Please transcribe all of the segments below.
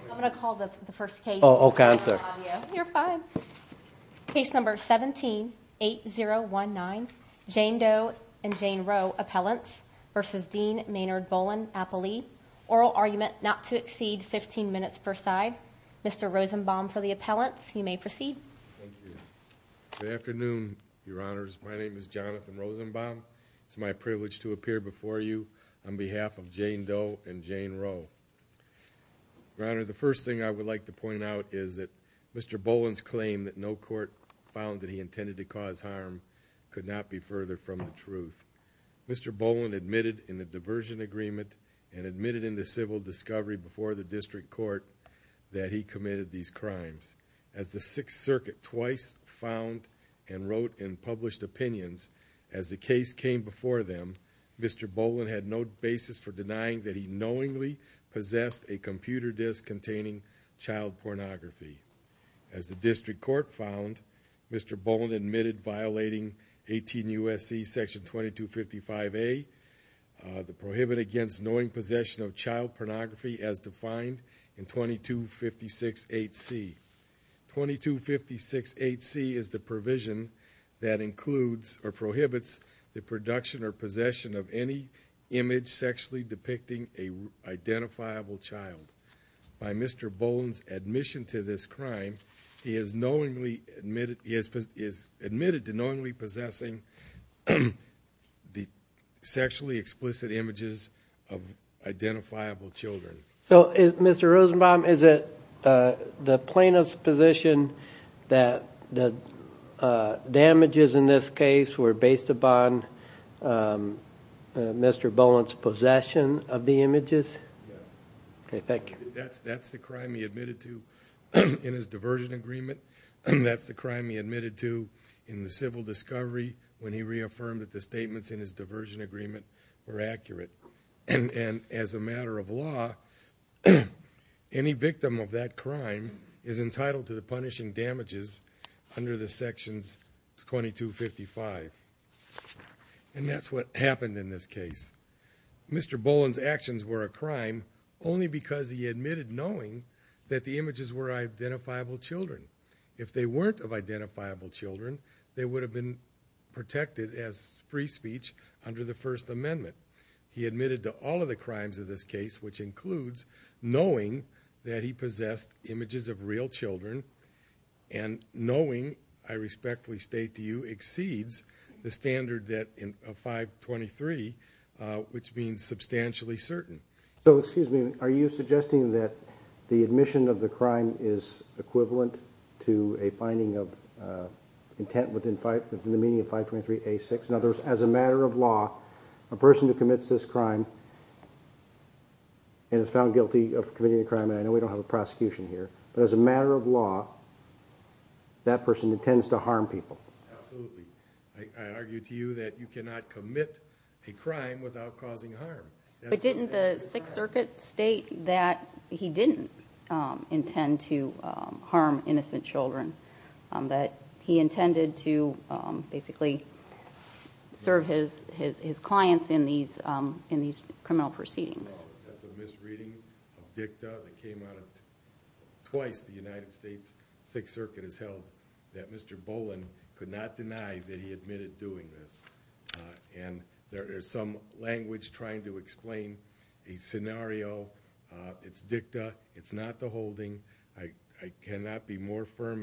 I'm gonna call the first case. Oh, cancer. You're fine. Case number 178019 Jane Doe and Jane Roe Appellants versus Dean Maynard Boland Appellee. Oral argument not to exceed 15 minutes per side. Mr Rosenbaum for the appellants. You may proceed. Thank you. Good afternoon, your honors. My name is Jonathan Rosenbaum. It's my privilege to appear before you on behalf of Jane Doe and Jane Roe. Your honor, the first thing I would like to point out is that Mr Boland's claim that no court found that he intended to cause harm could not be further from the truth. Mr Boland admitted in the diversion agreement and admitted in the civil discovery before the district court that he committed these crimes. As the sixth circuit twice found and wrote and published opinions as the case came before them, Mr Boland had no basis for denying that he knowingly possessed a computer disc containing child pornography. As the district court found, Mr Boland admitted violating 18 U. S. C. Section 22 55 A. Uh, the prohibit against knowing possession of child pornography as defined in 22 56 8 C. 22 56 8 C is the provision that includes or prohibits the production or possession of any image sexually depicting a identifiable child. By Mr Boland's admission to this crime, he is knowingly admitted. He is admitted to knowingly possessing the sexually explicit images of identifiable Children. So is Mr Rosenbaum? Is it the plaintiff's position that the damages in this case were based upon Um, Mr Boland's possession of the images? Yes. Okay. Thank you. That's that's the crime he admitted to in his diversion agreement. That's the crime he admitted to in the civil discovery when he reaffirmed that the statements in his diversion agreement were accurate. And as a matter of law, any victim of that crime is entitled to the punishing damages under the sections 22 55. And that's what happened in this case. Mr Boland's actions were a crime only because he admitted knowing that the images were identifiable Children. If they weren't of identifiable Children, they would have been protected as free speech under the First Amendment. He admitted to all of the crimes of this case, which includes knowing that he possessed images of real Children and knowing I respectfully state to you exceeds the standard that in 5 23, which means substantially certain. So excuse me, are you suggesting that the admission of the crime is equivalent to a finding of intent within five minutes in the meaning of 5 23 a six and others as a matter of law, a person who commits this crime and is found guilty of committing a crime. And I know we don't have a that person intends to harm people. Absolutely. I argue to you that you cannot commit a crime without causing harm. But didn't the Sixth Circuit state that he didn't intend to harm innocent Children that he intended to basically serve his his his clients in these in these criminal That's a misreading of dicta that came out of twice. The United States Sixth Circuit has held that Mr Boland could not deny that he admitted doing this. And there is some language trying to explain a scenario. It's dicta. It's not the holding. I cannot be more firm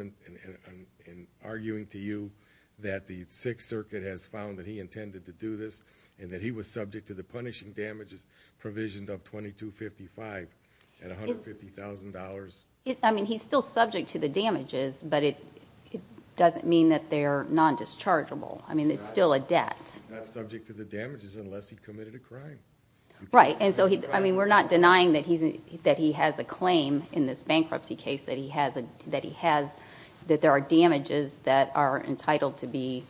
and arguing to you that the Sixth Circuit has found that he intended to do this and that he was provisioned of 22 55 and $150,000. I mean, he's still subject to the damages, but it doesn't mean that they're non-dischargeable. I mean, it's still a debt subject to the damages unless he committed a crime. Right. And so I mean, we're not denying that he that he has a claim in this bankruptcy case that he has that he has that there are damages that are entitled to be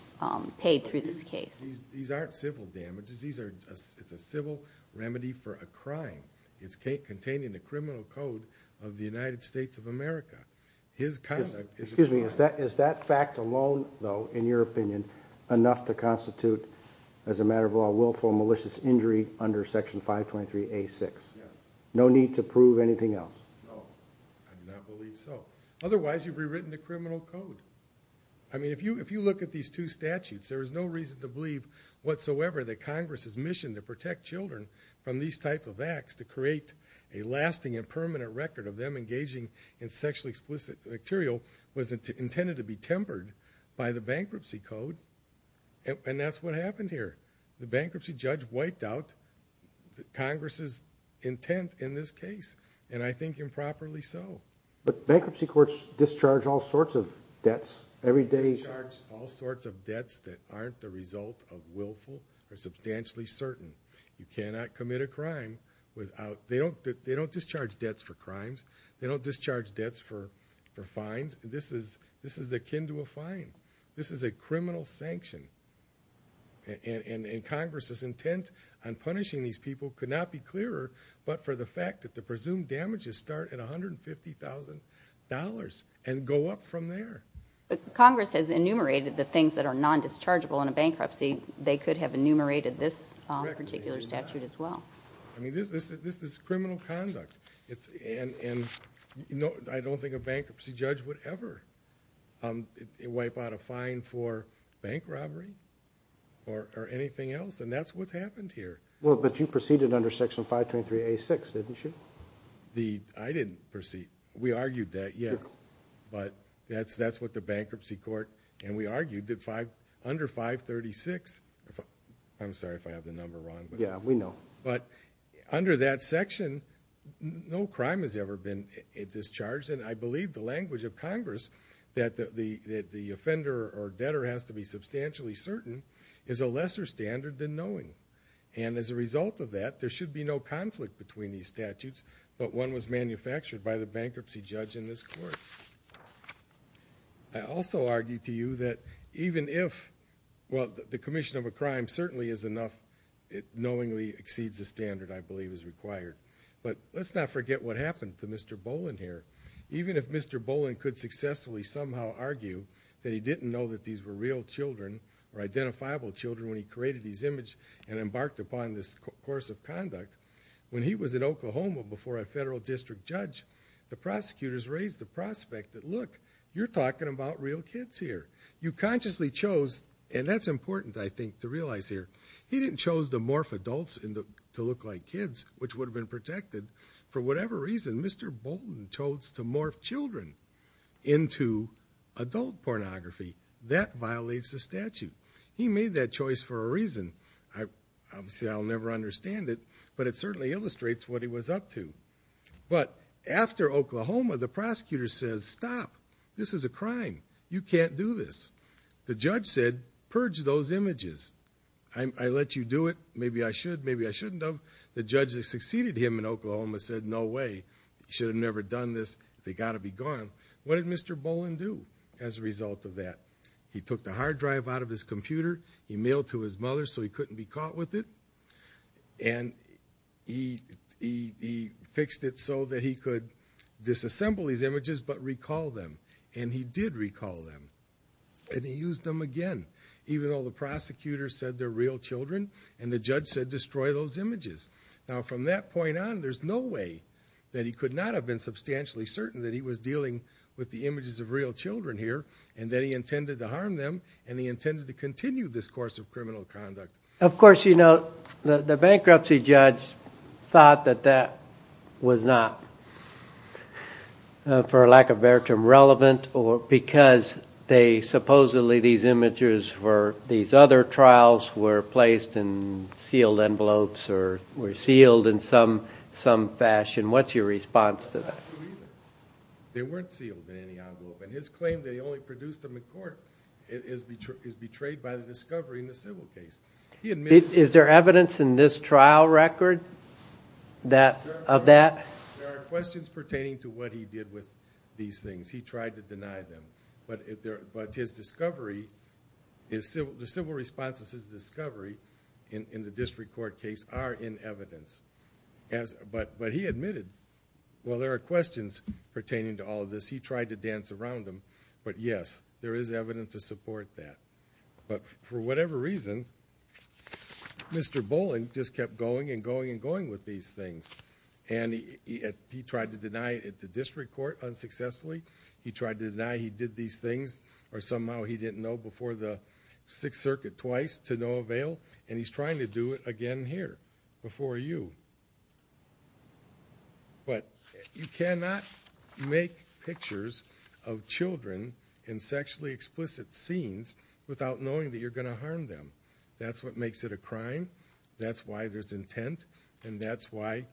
paid through this case. These aren't civil damages. These are it's a civil remedy for a crime. It's containing the criminal code of the United States of America. His conduct, excuse me, is that is that fact alone, though, in your opinion, enough to constitute as a matter of law willful malicious injury under Section 523 a six. Yes. No need to prove anything else. No, I do not believe so. Otherwise, you've rewritten the criminal code. I mean, if you if you look at these two statutes, there is no reason to believe whatsoever that Congress's mission to protect children from these type of acts to create a lasting and permanent record of them engaging in sexually explicit material was intended to be tempered by the bankruptcy code. And that's what happened here. The bankruptcy judge wiped out Congress's intent in this case. And I think improperly so. But bankruptcy courts discharge all sorts of debts every day, charge all sorts of debts that aren't the result of willful or substantially certain you cannot commit a crime without they don't they don't discharge debts for crimes. They don't discharge debts for for fines. This is this is akin to a fine. This is a criminal sanction. And Congress's intent on punishing these people could not be clearer, but for the fact that the presumed damages start at $150,000 and go up from there. Congress has enumerated the things that are non-dischargeable in a bankruptcy. They could have enumerated this particular statute as well. I mean, this is this is criminal conduct. It's and you know, I don't think a bankruptcy judge would ever wipe out a fine for bank robbery or anything else. And that's what's happened here. Well, but you proceeded under Section 523A6, didn't you? The I didn't proceed. We argued that, yes. But that's that's what the bankruptcy court and we argued that five under 536. I'm sorry if I have the number wrong. Yeah, we know. But under that section, no crime has ever been discharged. And I believe the language of Congress that the offender or debtor has to be substantially certain is a lesser standard than knowing. And as a result of that, there should be no conflict between these statutes. But one was manufactured by the bankruptcy judge in this court. I also argue to you that even if well, the commission of a crime certainly is enough. It knowingly exceeds the standard I believe is required. But let's not forget what happened to Mr. Boland here. Even if Mr. Boland could successfully somehow argue that he didn't know that these were real children or identifiable children when he created these image and embarked upon this course of conduct when he was in Oklahoma before a federal district judge, the prosecutors raised the prospect that, look, you're talking about real kids here. You consciously chose. And that's important, I think, to realize here. He didn't chose to morph adults to look like kids, which would have been protected. For whatever reason, Mr. Boland chose to morph children into adult pornography. That violates the statute. He made that choice for a reason. Obviously, I'll never understand it, but it certainly illustrates what he was up to. But after Oklahoma, the prosecutor says, stop. This is a crime. You can't do this. The judge said, purge those images. I let you do it. Maybe I should. Maybe I shouldn't have. The judge that succeeded him in Oklahoma said, no way. Should have never done this. They got to be gone. What did Mr. Boland do as a result of that? He took the hard drive out of his computer. He mailed to his mother so he couldn't be caught with it. And he fixed it so that he could disassemble these images, but recall them. And he did recall them. And he used them again, even though the prosecutor said they're real children. And the judge said, destroy those images. Now, from that point on, there's no way that he could not have been substantially certain that he was dealing with the images of real children here, and that he intended to harm them, and he intended to continue this course of criminal conduct. Of course, you know, the bankruptcy judge thought that that was not, for lack of a better term, relevant, because supposedly these images for these other trials were placed in sealed envelopes or were sealed in some fashion. What's your response to that? They weren't sealed in any envelope. And his claim that he only produced them in court is betrayed by the discovery in the civil case. Is there evidence in this trial record of that? There are questions pertaining to what he did with these things. He tried to deny them. But his discovery, the civil response to his discovery in the district court case are in evidence. But he admitted, well, there are questions pertaining to all of this. He tried to dance around them. But yes, there is evidence to support that. But for whatever reason, Mr. Bowling just kept going and going and going with these things. And he tried to deny it at the district court unsuccessfully. He tried to deny he did these things, or somehow he didn't know before the Sixth Circuit twice, to no avail. And he's trying to do it again here, before you. But you cannot make pictures of children in sexually explicit scenes without knowing that you're going to harm them. That's what makes it a crime. That's why there's intent. And that's why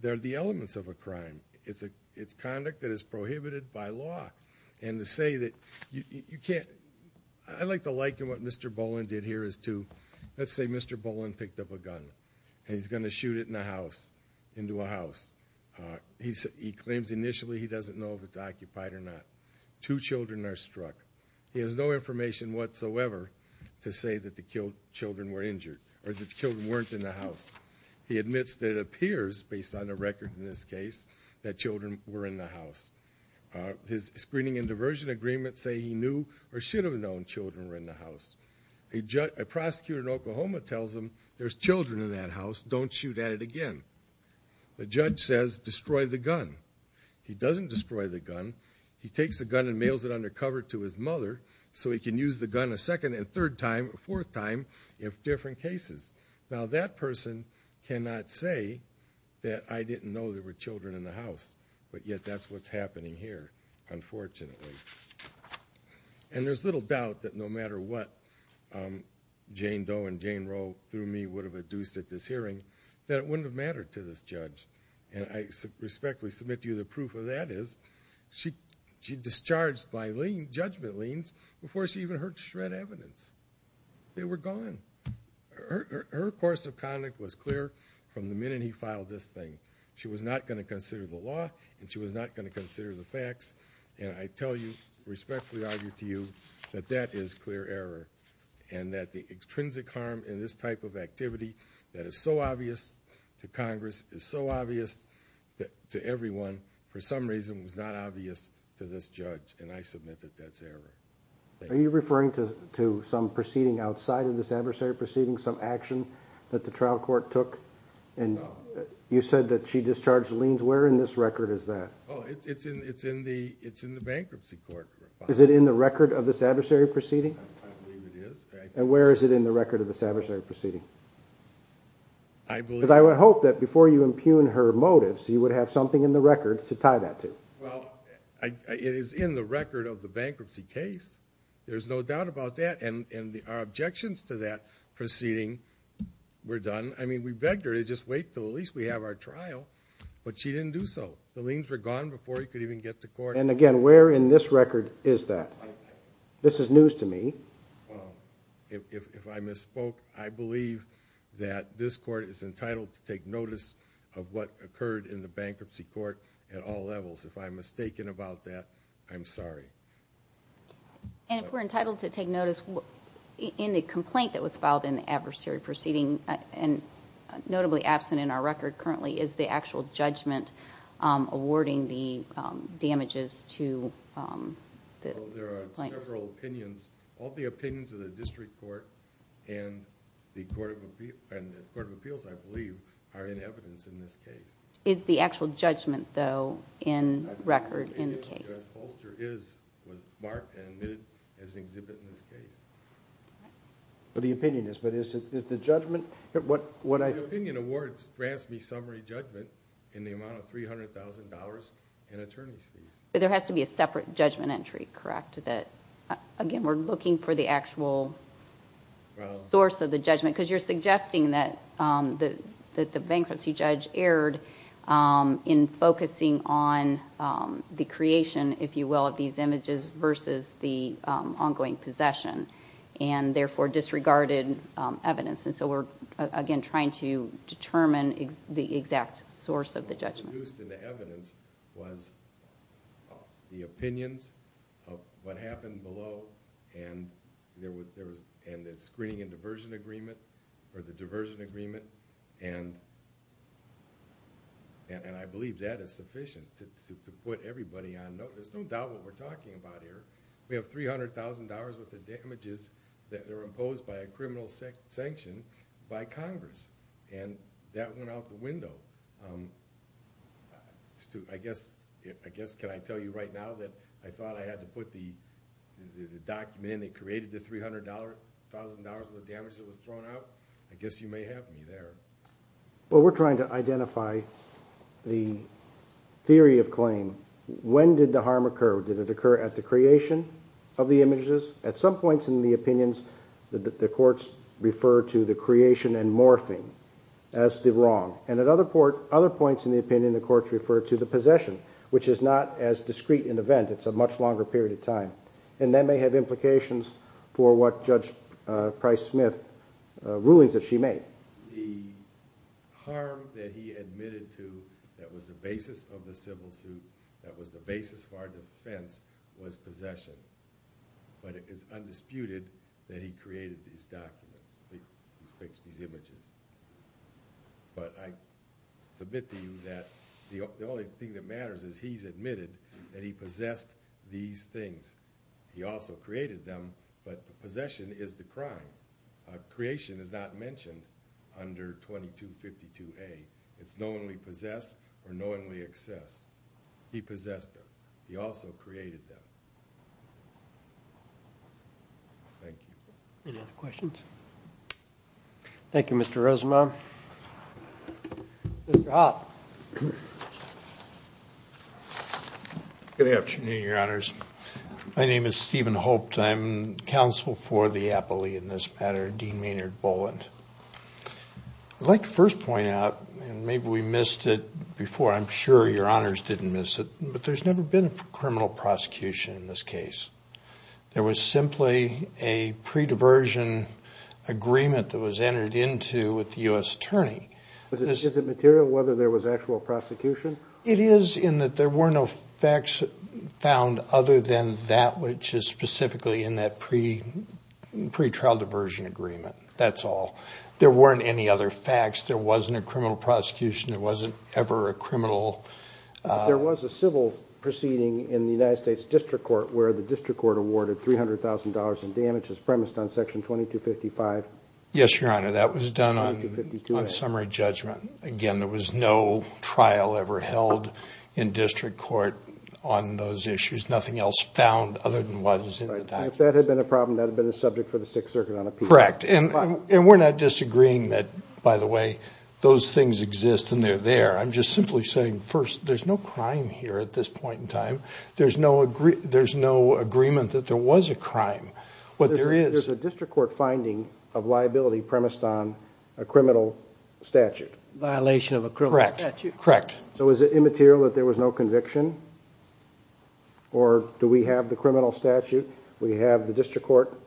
they're the elements of a crime. It's conduct that is prohibited by law. And to say that you can't, I like to liken what Mr. Bowling did here as to, let's say Mr. Bowling picked up a gun, and he's going to shoot it in a house, into a house. He claims initially he doesn't know if it's occupied or not. Two children are struck. He has no information whatsoever to say that the killed children were injured, or that the children weren't in the house. He admits that it appears, based on the record in this case, that children were in the house. His screening and diversion agreements say he knew or should have known children were in the house. A prosecutor in that house, don't shoot at it again. The judge says destroy the gun. He doesn't destroy the gun. He takes the gun and mails it undercover to his mother, so he can use the gun a second and third time, a fourth time, in different cases. Now that person cannot say that I didn't know there were children in the house. But yet that's what's happening here, unfortunately. And there's little doubt that no matter what Jane Doe and Jane Roe through me would have induced at this hearing, that it wouldn't have mattered to this judge. And I respectfully submit to you the proof of that is, she discharged by judgment liens before she even heard shred evidence. They were gone. Her course of conduct was clear from the minute he filed this thing. She was not going to consider the law, and she was not going to consider the facts. And I tell you, respectfully argue to you, that that is clear error. And that the extrinsic harm in this type of activity that is so obvious to Congress, is so obvious to everyone, for some reason was not obvious to this judge, and I submit that that's error. Are you referring to some proceeding outside of this adversary proceeding, some action that the trial court took? No. You said that she discharged liens. Where in this record is that? It's in the bankruptcy court. Is it in the record of this adversary proceeding? I believe it is. And where is it in the record of this adversary proceeding? I believe. Because I would hope that before you impugn her motives, you would have something in the record to tie that to. Well, it is in the record of the bankruptcy case. There's no doubt about that, and our objections to that proceeding were done. I mean, we begged her to just wait till at least we have our trial, but she didn't do so. The liens were gone before he could even get to court. And again, where in this record is that? This is news to me. Well, if I misspoke, I believe that this court is entitled to take notice of what occurred in the bankruptcy court at all levels. If I'm mistaken about that, I'm sorry. And if we're entitled to take notice in the complaint that was filed in the adversary proceeding, and notably absent in our record currently, is the actual judgment awarding the damages to the plaintiffs? Well, there are several opinions. All the opinions of the district court and the court of appeals, I believe, are in evidence in this case. Is the actual judgment, though, in record in the case? I believe it is, because Holster is marked and admitted as an exhibit in this case. But the opinion is, but is the judgment, what I... The opinion awards grants me summary judgment in the amount of $300,000 in attorney's fees. But there has to be a separate judgment entry, correct? That, again, we're looking for the actual source of the judgment, because you're suggesting that the bankruptcy judge erred in focusing on the creation, if you will, of these images versus the ongoing possession, and therefore disregarded evidence. And so we're, again, trying to determine the exact source of the judgment. What was deduced in the evidence was the opinions of what happened below, and the screening and diversion agreement, or the diversion agreement. And I believe that is sufficient to put everybody on note. There's no doubt what we're talking about here. We have $300,000 worth of damages that are imposed by a criminal sanction by Congress, and that went out the window. I guess, can I tell you right now that I thought I had to put the document in that created the $300,000 worth of damages that was thrown out? I guess you may have me there. Well, we're trying to identify the theory of claim. When did the harm occur? Did it occur at the creation of the images? At some points in the opinions, the courts refer to the creation and morphing as the wrong. And at other points in the opinion, the courts refer to the possession, which is not as discrete an event. It's a much longer period of time. And that may have harm that he admitted to that was the basis of the civil suit, that was the basis for our defense, was possession. But it is undisputed that he created these documents, these images. But I submit to you that the only thing that matters is he's admitted that he possessed these things. He also created them, but possession is the crime. Creation is not mentioned under 2252A. It's knowingly possessed or knowingly excess. He possessed them. He also created them. Thank you. Any other questions? Thank you, Mr. Rosenbaum. Mr. Hoppe. Good afternoon, your honors. My name is Stephen Hoppe. I'm counsel for the appellee in this matter, Dean Maynard Boland. I'd like to first point out, and maybe we missed it before, I'm sure your honors didn't miss it, but there's never been a criminal prosecution in this case. There was simply a pre-diversion agreement that was entered into with the U.S. attorney. Is it material whether there was actual prosecution? It is in that there were no facts found other than that which is specifically in that pre-trial diversion agreement. That's all. There weren't any other facts. There wasn't a criminal prosecution. It wasn't ever a criminal. There was a civil proceeding in the United States District Court where the District Court awarded $300,000 in damages premised on section 2255. Yes, your honor. That was done on summary judgment. Again, there was no trial ever held in District Court on those issues. Nothing else found other than what was in the taxes. If that had been a problem, that would have been a subject for the Sixth Circuit on appeal. Correct. And we're not disagreeing that, by the way, those things exist and they're there. I'm just simply saying, first, there's no crime here at this point in time. There's no agreement that there was a crime, but there is. There's a District Court finding of liability premised on a criminal statute. Violation of a criminal statute. Correct. So is it immaterial that there was no conviction? Or do we have the criminal statute? Do we have the District Court?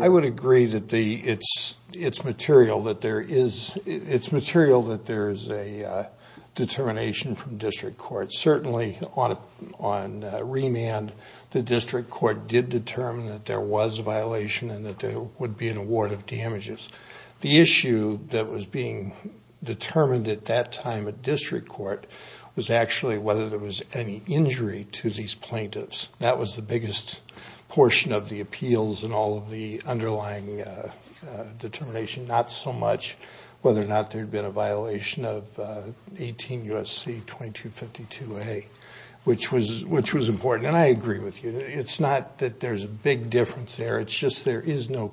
I would agree that it's material that there is a determination from District Court. Certainly on remand, the District Court did determine that there was a violation and that there would be an award of damages. The issue that was being determined at that time at District Court was actually whether there was any injury to these plaintiffs. That was the biggest portion of the appeals and all of the underlying determination. Not so much whether or not there had been a violation of 18 U.S.C. 2252A, which was important. And I agree with you. It's not that there's a big difference there. It's just there is no,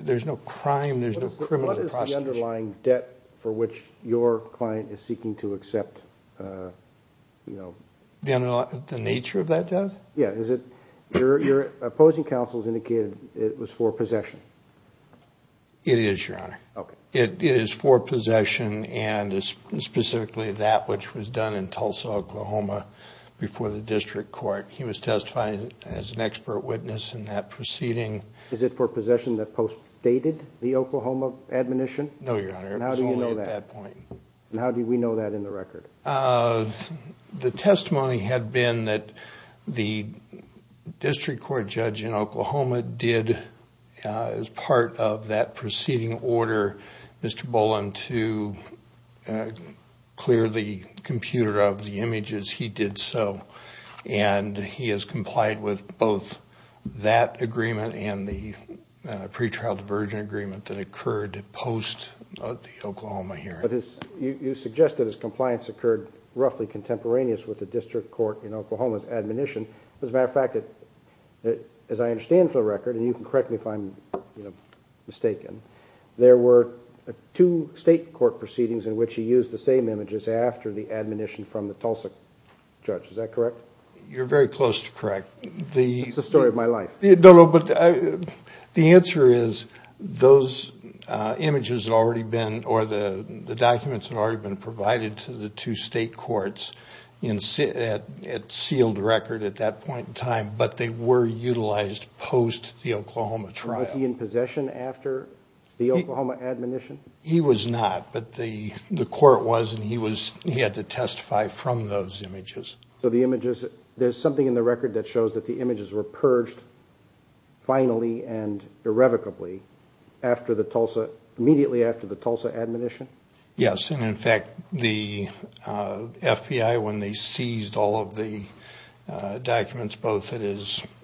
there's no crime. There's no criminal prosecution. What is the underlying debt for which your client is seeking to accept? The nature of that debt? Yeah. Your opposing counsel has indicated it was for possession. It is, Your Honor. It is for possession and specifically that which was done in Tulsa, Oklahoma before the District Court. He was testifying as an expert witness in that proceeding. Is it for possession that postdated the Oklahoma admonition? No, Your Honor. It was only at that point. How do we know that in the record? The testimony had been that the District Court judge in Oklahoma did as part of that proceeding order, Mr. Boland, to clear the computer of the images. He did so. And he has complied with both that agreement and the pretrial diversion agreement that occurred post the Oklahoma hearing. But you suggest that his compliance occurred roughly contemporaneous with the District Court in Oklahoma's admonition. As a matter of fact, as I understand from the record, and you can correct me if I'm mistaken, there were two state court proceedings in which he used the same images after the admonition from the Tulsa judge. Is that correct? You're very close to correct. It's the story of my life. No, no, but the answer is those images had already been, or the documents had already been provided to the District Court. But they were utilized post the Oklahoma trial. Was he in possession after the Oklahoma admonition? He was not, but the court was and he had to testify from those images. So the images, there's something in the record that shows that the images were purged finally and irrevocably immediately after the Tulsa admonition? Yes, and in fact, the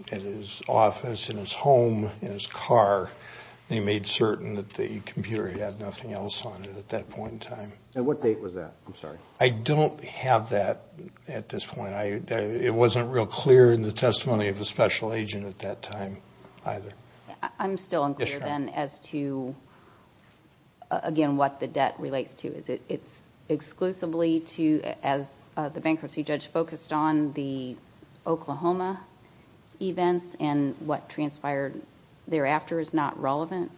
at his office, in his home, in his car, they made certain that the computer had nothing else on it at that point in time. And what date was that? I'm sorry. I don't have that at this point. It wasn't real clear in the testimony of the special agent at that time either. I'm still unclear then as to, again, what the debt relates to. Is it exclusively to, as the bankruptcy judge focused on the Oklahoma events and what transpired thereafter is not relevant?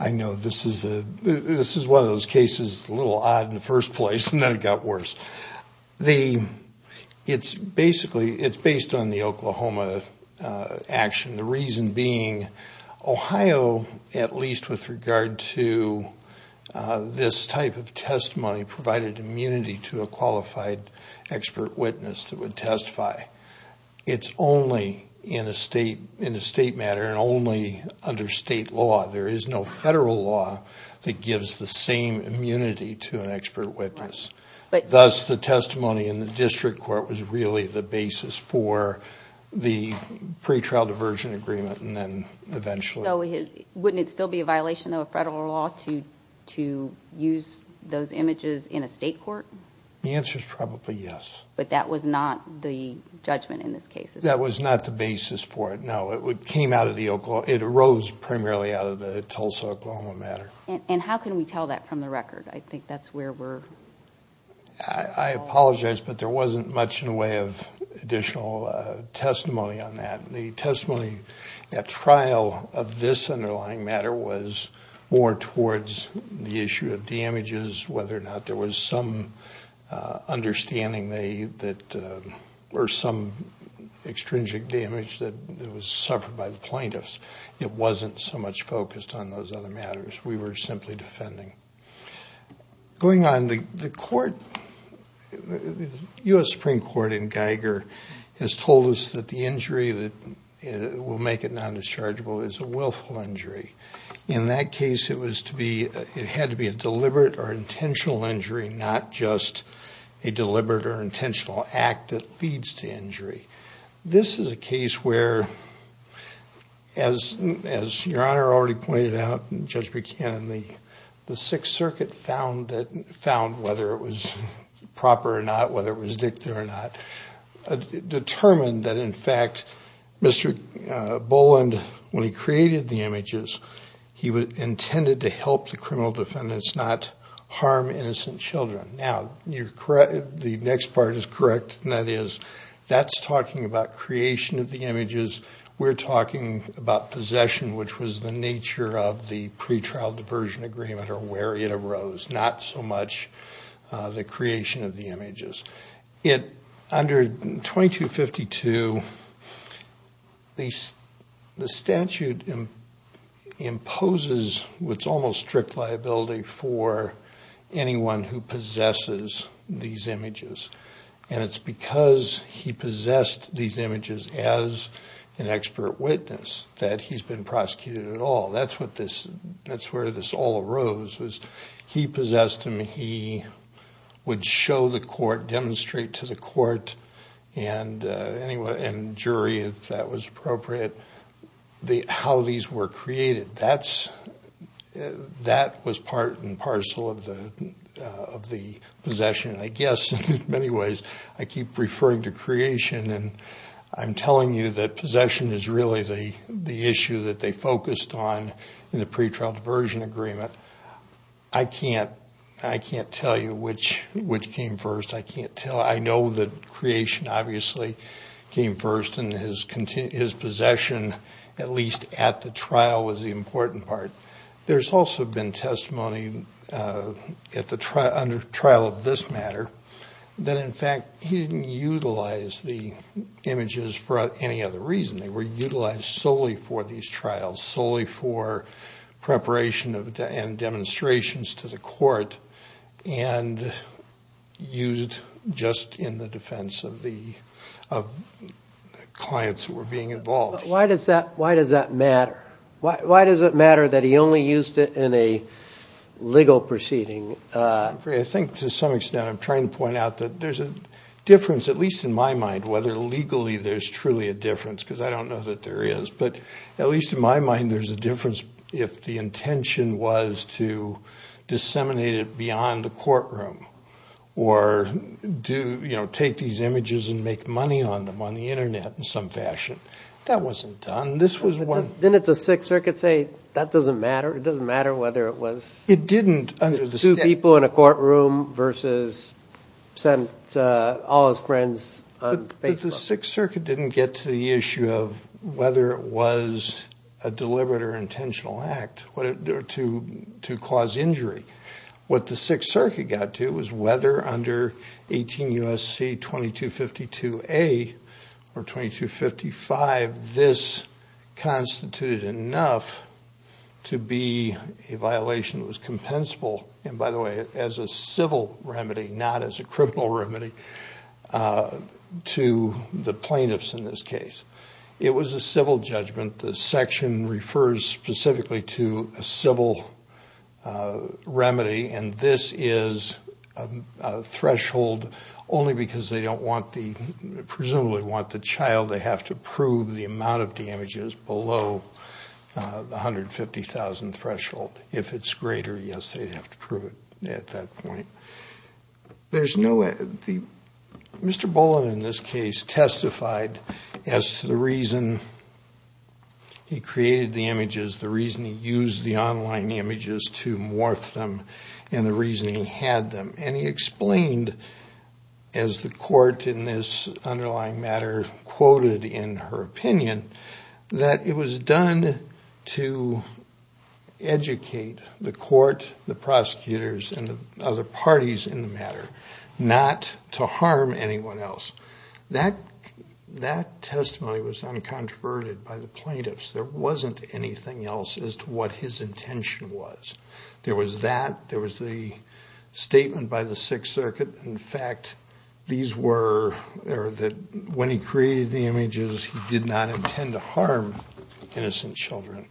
I know this is a, this is one of those cases a little odd in the first place and then it got worse. The, it's basically, it's based on the Oklahoma action. The reason being Ohio, at least with regard to this type of testimony, provided immunity to a qualified expert witness that would testify. It's only in a state, in a state matter and only under state law. There is no federal law that gives the same immunity to an expert witness. Thus, the testimony in the district court was really the basis for the pre-trial diversion agreement and then eventually... So wouldn't it still be a violation of federal law to use those images in a state court? The answer is probably yes. But that was not the judgment in this case? That was not the basis for it, no. It came out of the Oklahoma, it arose primarily out of the Tulsa-Oklahoma matter. And how can we tell that from the record? I think that's where we're... I apologize but there wasn't much in the way of additional testimony on that. The testimony at trial of this underlying matter was more towards the issue of damages, whether or not there was some understanding that, or some extrinsic damage that was suffered by the plaintiffs. It wasn't so much focused on those other matters. We were told that the injury that will make it non-dischargeable is a willful injury. In that case, it had to be a deliberate or intentional injury, not just a deliberate or intentional act that leads to injury. This is a case where, as Your Honor already pointed out, and Judge Buchanan, the Sixth Circuit found whether it was proper or not, whether it was dicta or not. Determined that, in fact, Mr. Boland, when he created the images, he intended to help the criminal defendants not harm innocent children. Now, you're correct. The next part is correct. That is, that's talking about creation of the images. We're talking about possession, which was the nature of the pretrial diversion agreement or where it arose, not so much the creation of the images. Under 2252, the statute imposes what's almost strict liability for anyone who possesses these images. It's because he possessed these images as an expert witness that he's been prosecuted at all. That's where this all arose. He possessed them, he would show the court, demonstrate to the court and jury, if that was appropriate, how these were created. That was part and parcel of the possession. I guess, in many ways, I keep referring to creation. I'm telling you that possession is really the issue that they can't tell you which came first. I know that creation obviously came first and his possession, at least at the trial, was the important part. There's also been testimony under trial of this matter that, in fact, he didn't utilize the images for any other reason. They were utilized solely for these trials, solely for preparation and demonstrations to the court and used just in the defense of the clients who were being involved. Why does that matter? Why does it matter that he only used it in a legal proceeding? I think, to some extent, I'm trying to point out that there's a difference, at least in my mind, whether legally there's truly a difference, because I don't know that there is, but at least in my mind there's a difference if the intention was to disseminate it beyond the courtroom or take these images and make money on them on the internet in some fashion. That wasn't done. This was one... Didn't the Sixth Circuit say that doesn't matter? It doesn't matter whether it was two people in a courtroom versus sent all his friends on Facebook? The Sixth whether it was a deliberate or intentional act to cause injury. What the Sixth Circuit got to was whether under 18 U.S.C. 2252A or 2255, this constituted enough to be a violation that was compensable, and by the way, as a civil remedy, not as a criminal remedy, to the plaintiffs in this case. It was a civil judgment. The section refers specifically to a civil remedy, and this is a threshold only because they don't want the, presumably want the child, they have to prove the amount of damages below the 150,000 threshold. If it's greater, yes, they'd have to prove it at that point. There's no... Mr. Bullen in this case testified as to the reason he created the images, the reason he used the online images to morph them, and the reason he had them, and he explained as the court in this underlying matter quoted in her opinion that it was done to educate the court, the prosecutors, and the other parties in the matter not to harm anyone else. That testimony was uncontroverted by the plaintiffs. There wasn't anything else as to what his intention was. There was that, there was the statement by the Sixth Circuit. In fact, these were that when he created the images, he did not intend to harm innocent children.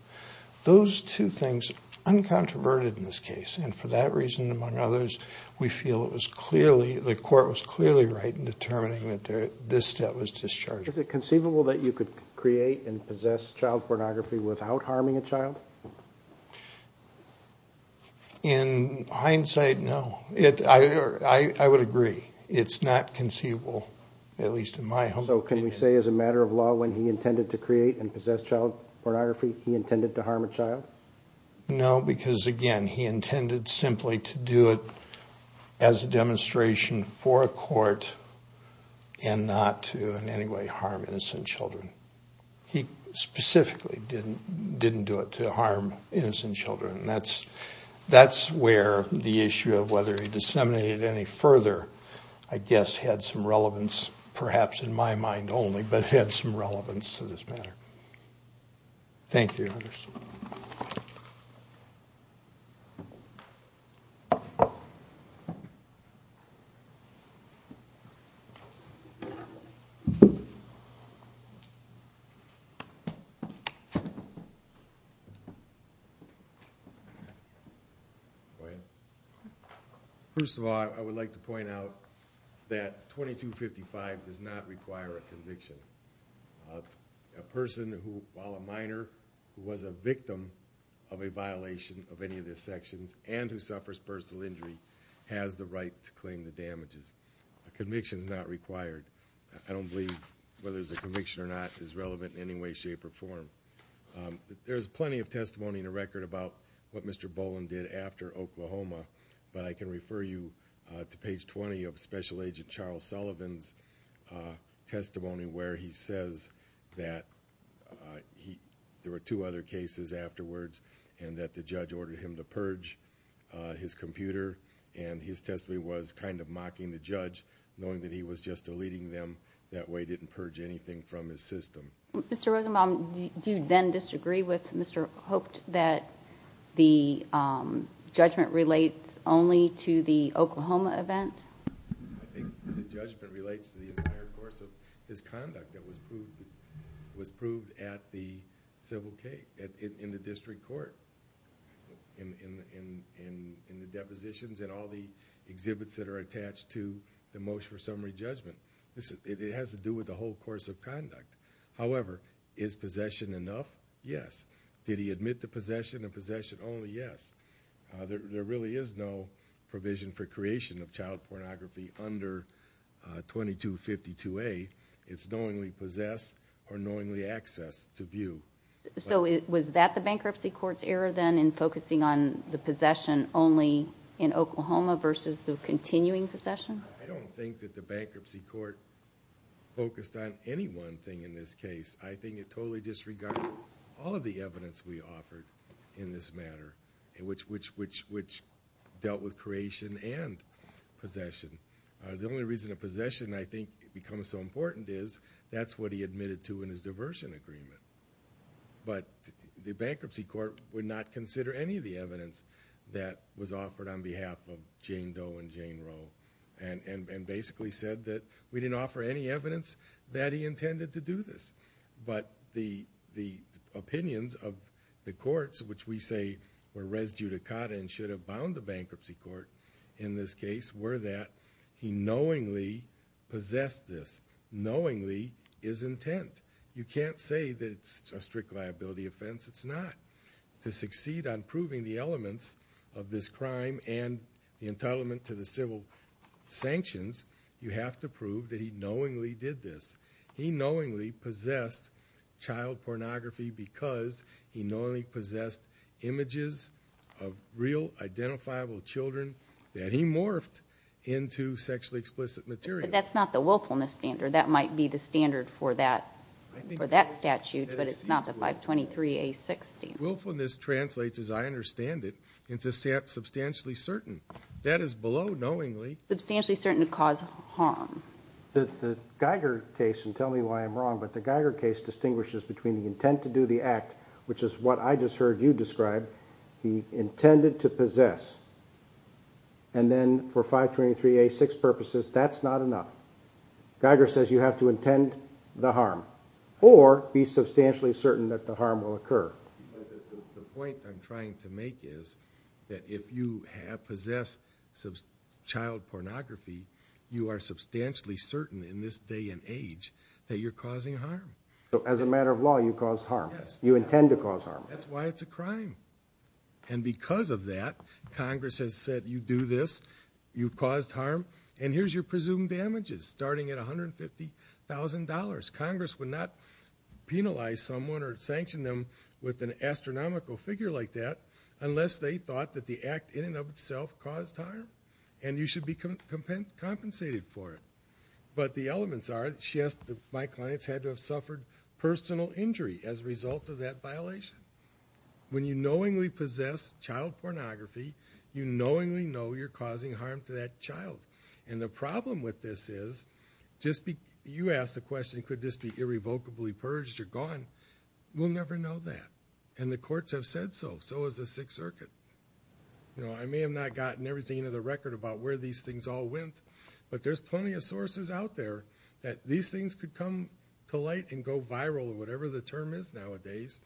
Those two things, uncontroverted in this case, and for that reason among others, we feel it was clearly, the court was clearly right in determining that this step was discharged. Is it conceivable that you could create and possess child pornography without harming a child? In hindsight, no. I would agree. It's not conceivable, at least in my opinion. So can we say as a matter of law when he intended to create and possess child pornography, he intended to harm a child? No, because again, he intended simply to do it as a demonstration for a court and not to in any way harm innocent children. He specifically didn't do it to harm innocent children, and that's where the issue of whether he disseminated any further, I guess, had some relevance, perhaps in my mind only, but had some relevance to this matter. Thank you, Anderson. Go ahead. First of all, I would like to point out that 2255 does not require a conviction. A person who, while a minor, who was a victim of a violation of any of these sections and who suffers personal injury has the right to claim the damages. A conviction is not required. I don't believe whether it's a conviction or not is relevant in any way, shape, or form. There's plenty of testimony in the record about what Mr. Boland did after Oklahoma, but I can refer you to page 20 of Special Agent Charles Sullivan's testimony where he says that there were two other cases afterwards and that the judge ordered him to purge his computer, and his testimony was kind of mocking the judge, knowing that he was just deleting them. That way he didn't purge anything from his system. Mr. Rosenbaum, do you then disagree with Mr. Hoped that the judgment relates only to the Oklahoma event? I think the judgment relates to the entire course of his conduct that was proved at the civil case, in the district court, in the depositions and all the exhibits that are attached to the motion for summary judgment. It has to do with the whole course of conduct. However, is possession enough? Yes. Did he admit to possession and possession only? Yes. There really is no provision for creation of child pornography under 2252A. It's knowingly possessed or knowingly accessed to view. So was that the bankruptcy court's error, then, in focusing on the possession only in Oklahoma versus the continuing possession? I don't think that the bankruptcy court focused on any one thing in this case. I think it totally disregarded all of the evidence we offered in this matter, which dealt with creation and possession. The only reason that possession, I think, becomes so important is that's what he admitted to in his diversion agreement. But the bankruptcy court would not consider any of the evidence that was offered on behalf of Jane Doe and Jane Roe, and basically said that we didn't offer any evidence that he intended to do this. But the opinions of the courts, which we say were res judicata and should have bound the bankruptcy court in this case, were that he knowingly possessed this. Knowingly is intent. You can't say that it's a strict liability offense. It's not. To succeed on proving the elements of this crime and the entitlement to the civil sanctions, you have to prove that he knowingly did this. He knowingly possessed child pornography because he knowingly possessed images of real identifiable children that he morphed into sexually explicit material. But that's not the willfulness standard. That might be the standard for that statute, but it's not the 523A6 standard. Willfulness translates, as I understand it, into substantially certain. That is below knowingly. Substantially certain to cause harm. The Geiger case, and tell me why I'm wrong, but the Geiger case distinguishes between the intent to do the act, which is what I just heard you describe, he intended to possess, and then for 523A6 purposes, that's not enough. Geiger says you have to intend the harm or be that if you have possessed child pornography, you are substantially certain in this day and age that you're causing harm. So as a matter of law, you cause harm. Yes. You intend to cause harm. That's why it's a crime. And because of that, Congress has said you do this, you caused harm, and here's your presumed damages, starting at $150,000. Congress would not penalize someone or sanction them with an astronomical figure like that unless they thought that the act in and of itself caused harm, and you should be compensated for it. But the elements are, she asked if my clients had to have suffered personal injury as a result of that violation. When you knowingly possess child pornography, you knowingly know you're causing harm to that child. And the problem with this is, you ask the question, could this be irrevocably purged or gone? We'll never know that. And the courts have said so. So has the Sixth Circuit. You know, I may have not gotten everything into the record about where these things all went, but there's plenty of sources out there that these things could come to light and go viral, whatever the term is nowadays,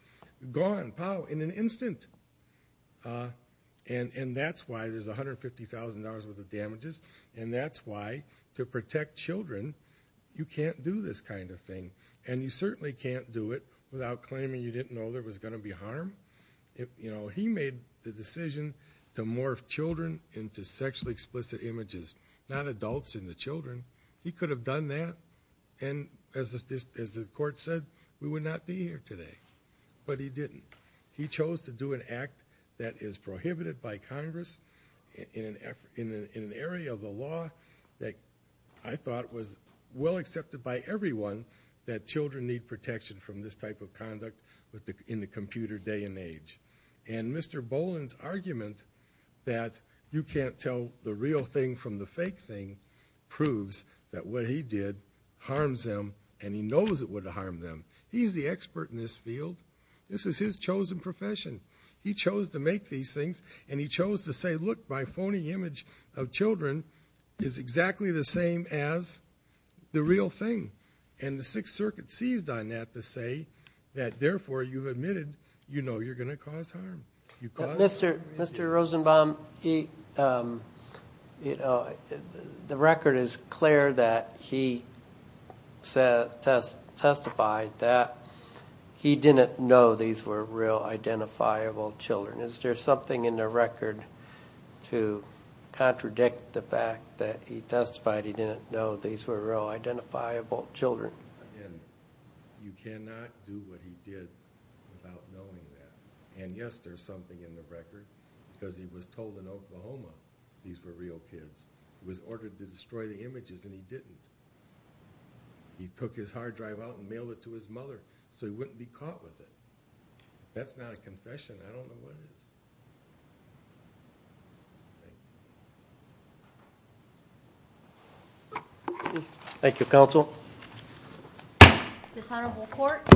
gone, pow, in an instant. And that's why there's $150,000 worth of damages, and that's why to protect children, you can't do this kind of thing. And you certainly can't do it without claiming you didn't know there was going to be harm. You know, he made the decision to morph children into sexually explicit images, not adults into children. He could have done that, and as the court said, we would not be here today. But he didn't. He chose to do an act that is prohibited by Congress in an area of the law that I thought was well protected from this type of conduct in the computer day and age. And Mr. Boland's argument that you can't tell the real thing from the fake thing proves that what he did harms them, and he knows it would harm them. He's the expert in this field. This is his chosen profession. He chose to make these things, and he chose to say, look, my phony image of children is exactly the same as the real thing. And the Sixth Circuit seized on that to say that, therefore, you've admitted you know you're going to cause harm. Mr. Rosenbaum, the record is clear that he testified that he didn't know these were real identifiable children. Is there something in the record? Because he was told in Oklahoma these were real kids. He was ordered to destroy the images, and he didn't. He took his hard drive out and mailed it to his mother, so he wouldn't be caught with it. That's not a confession. I don't know what is. Okay, thank you, counsel. Dishonorable court.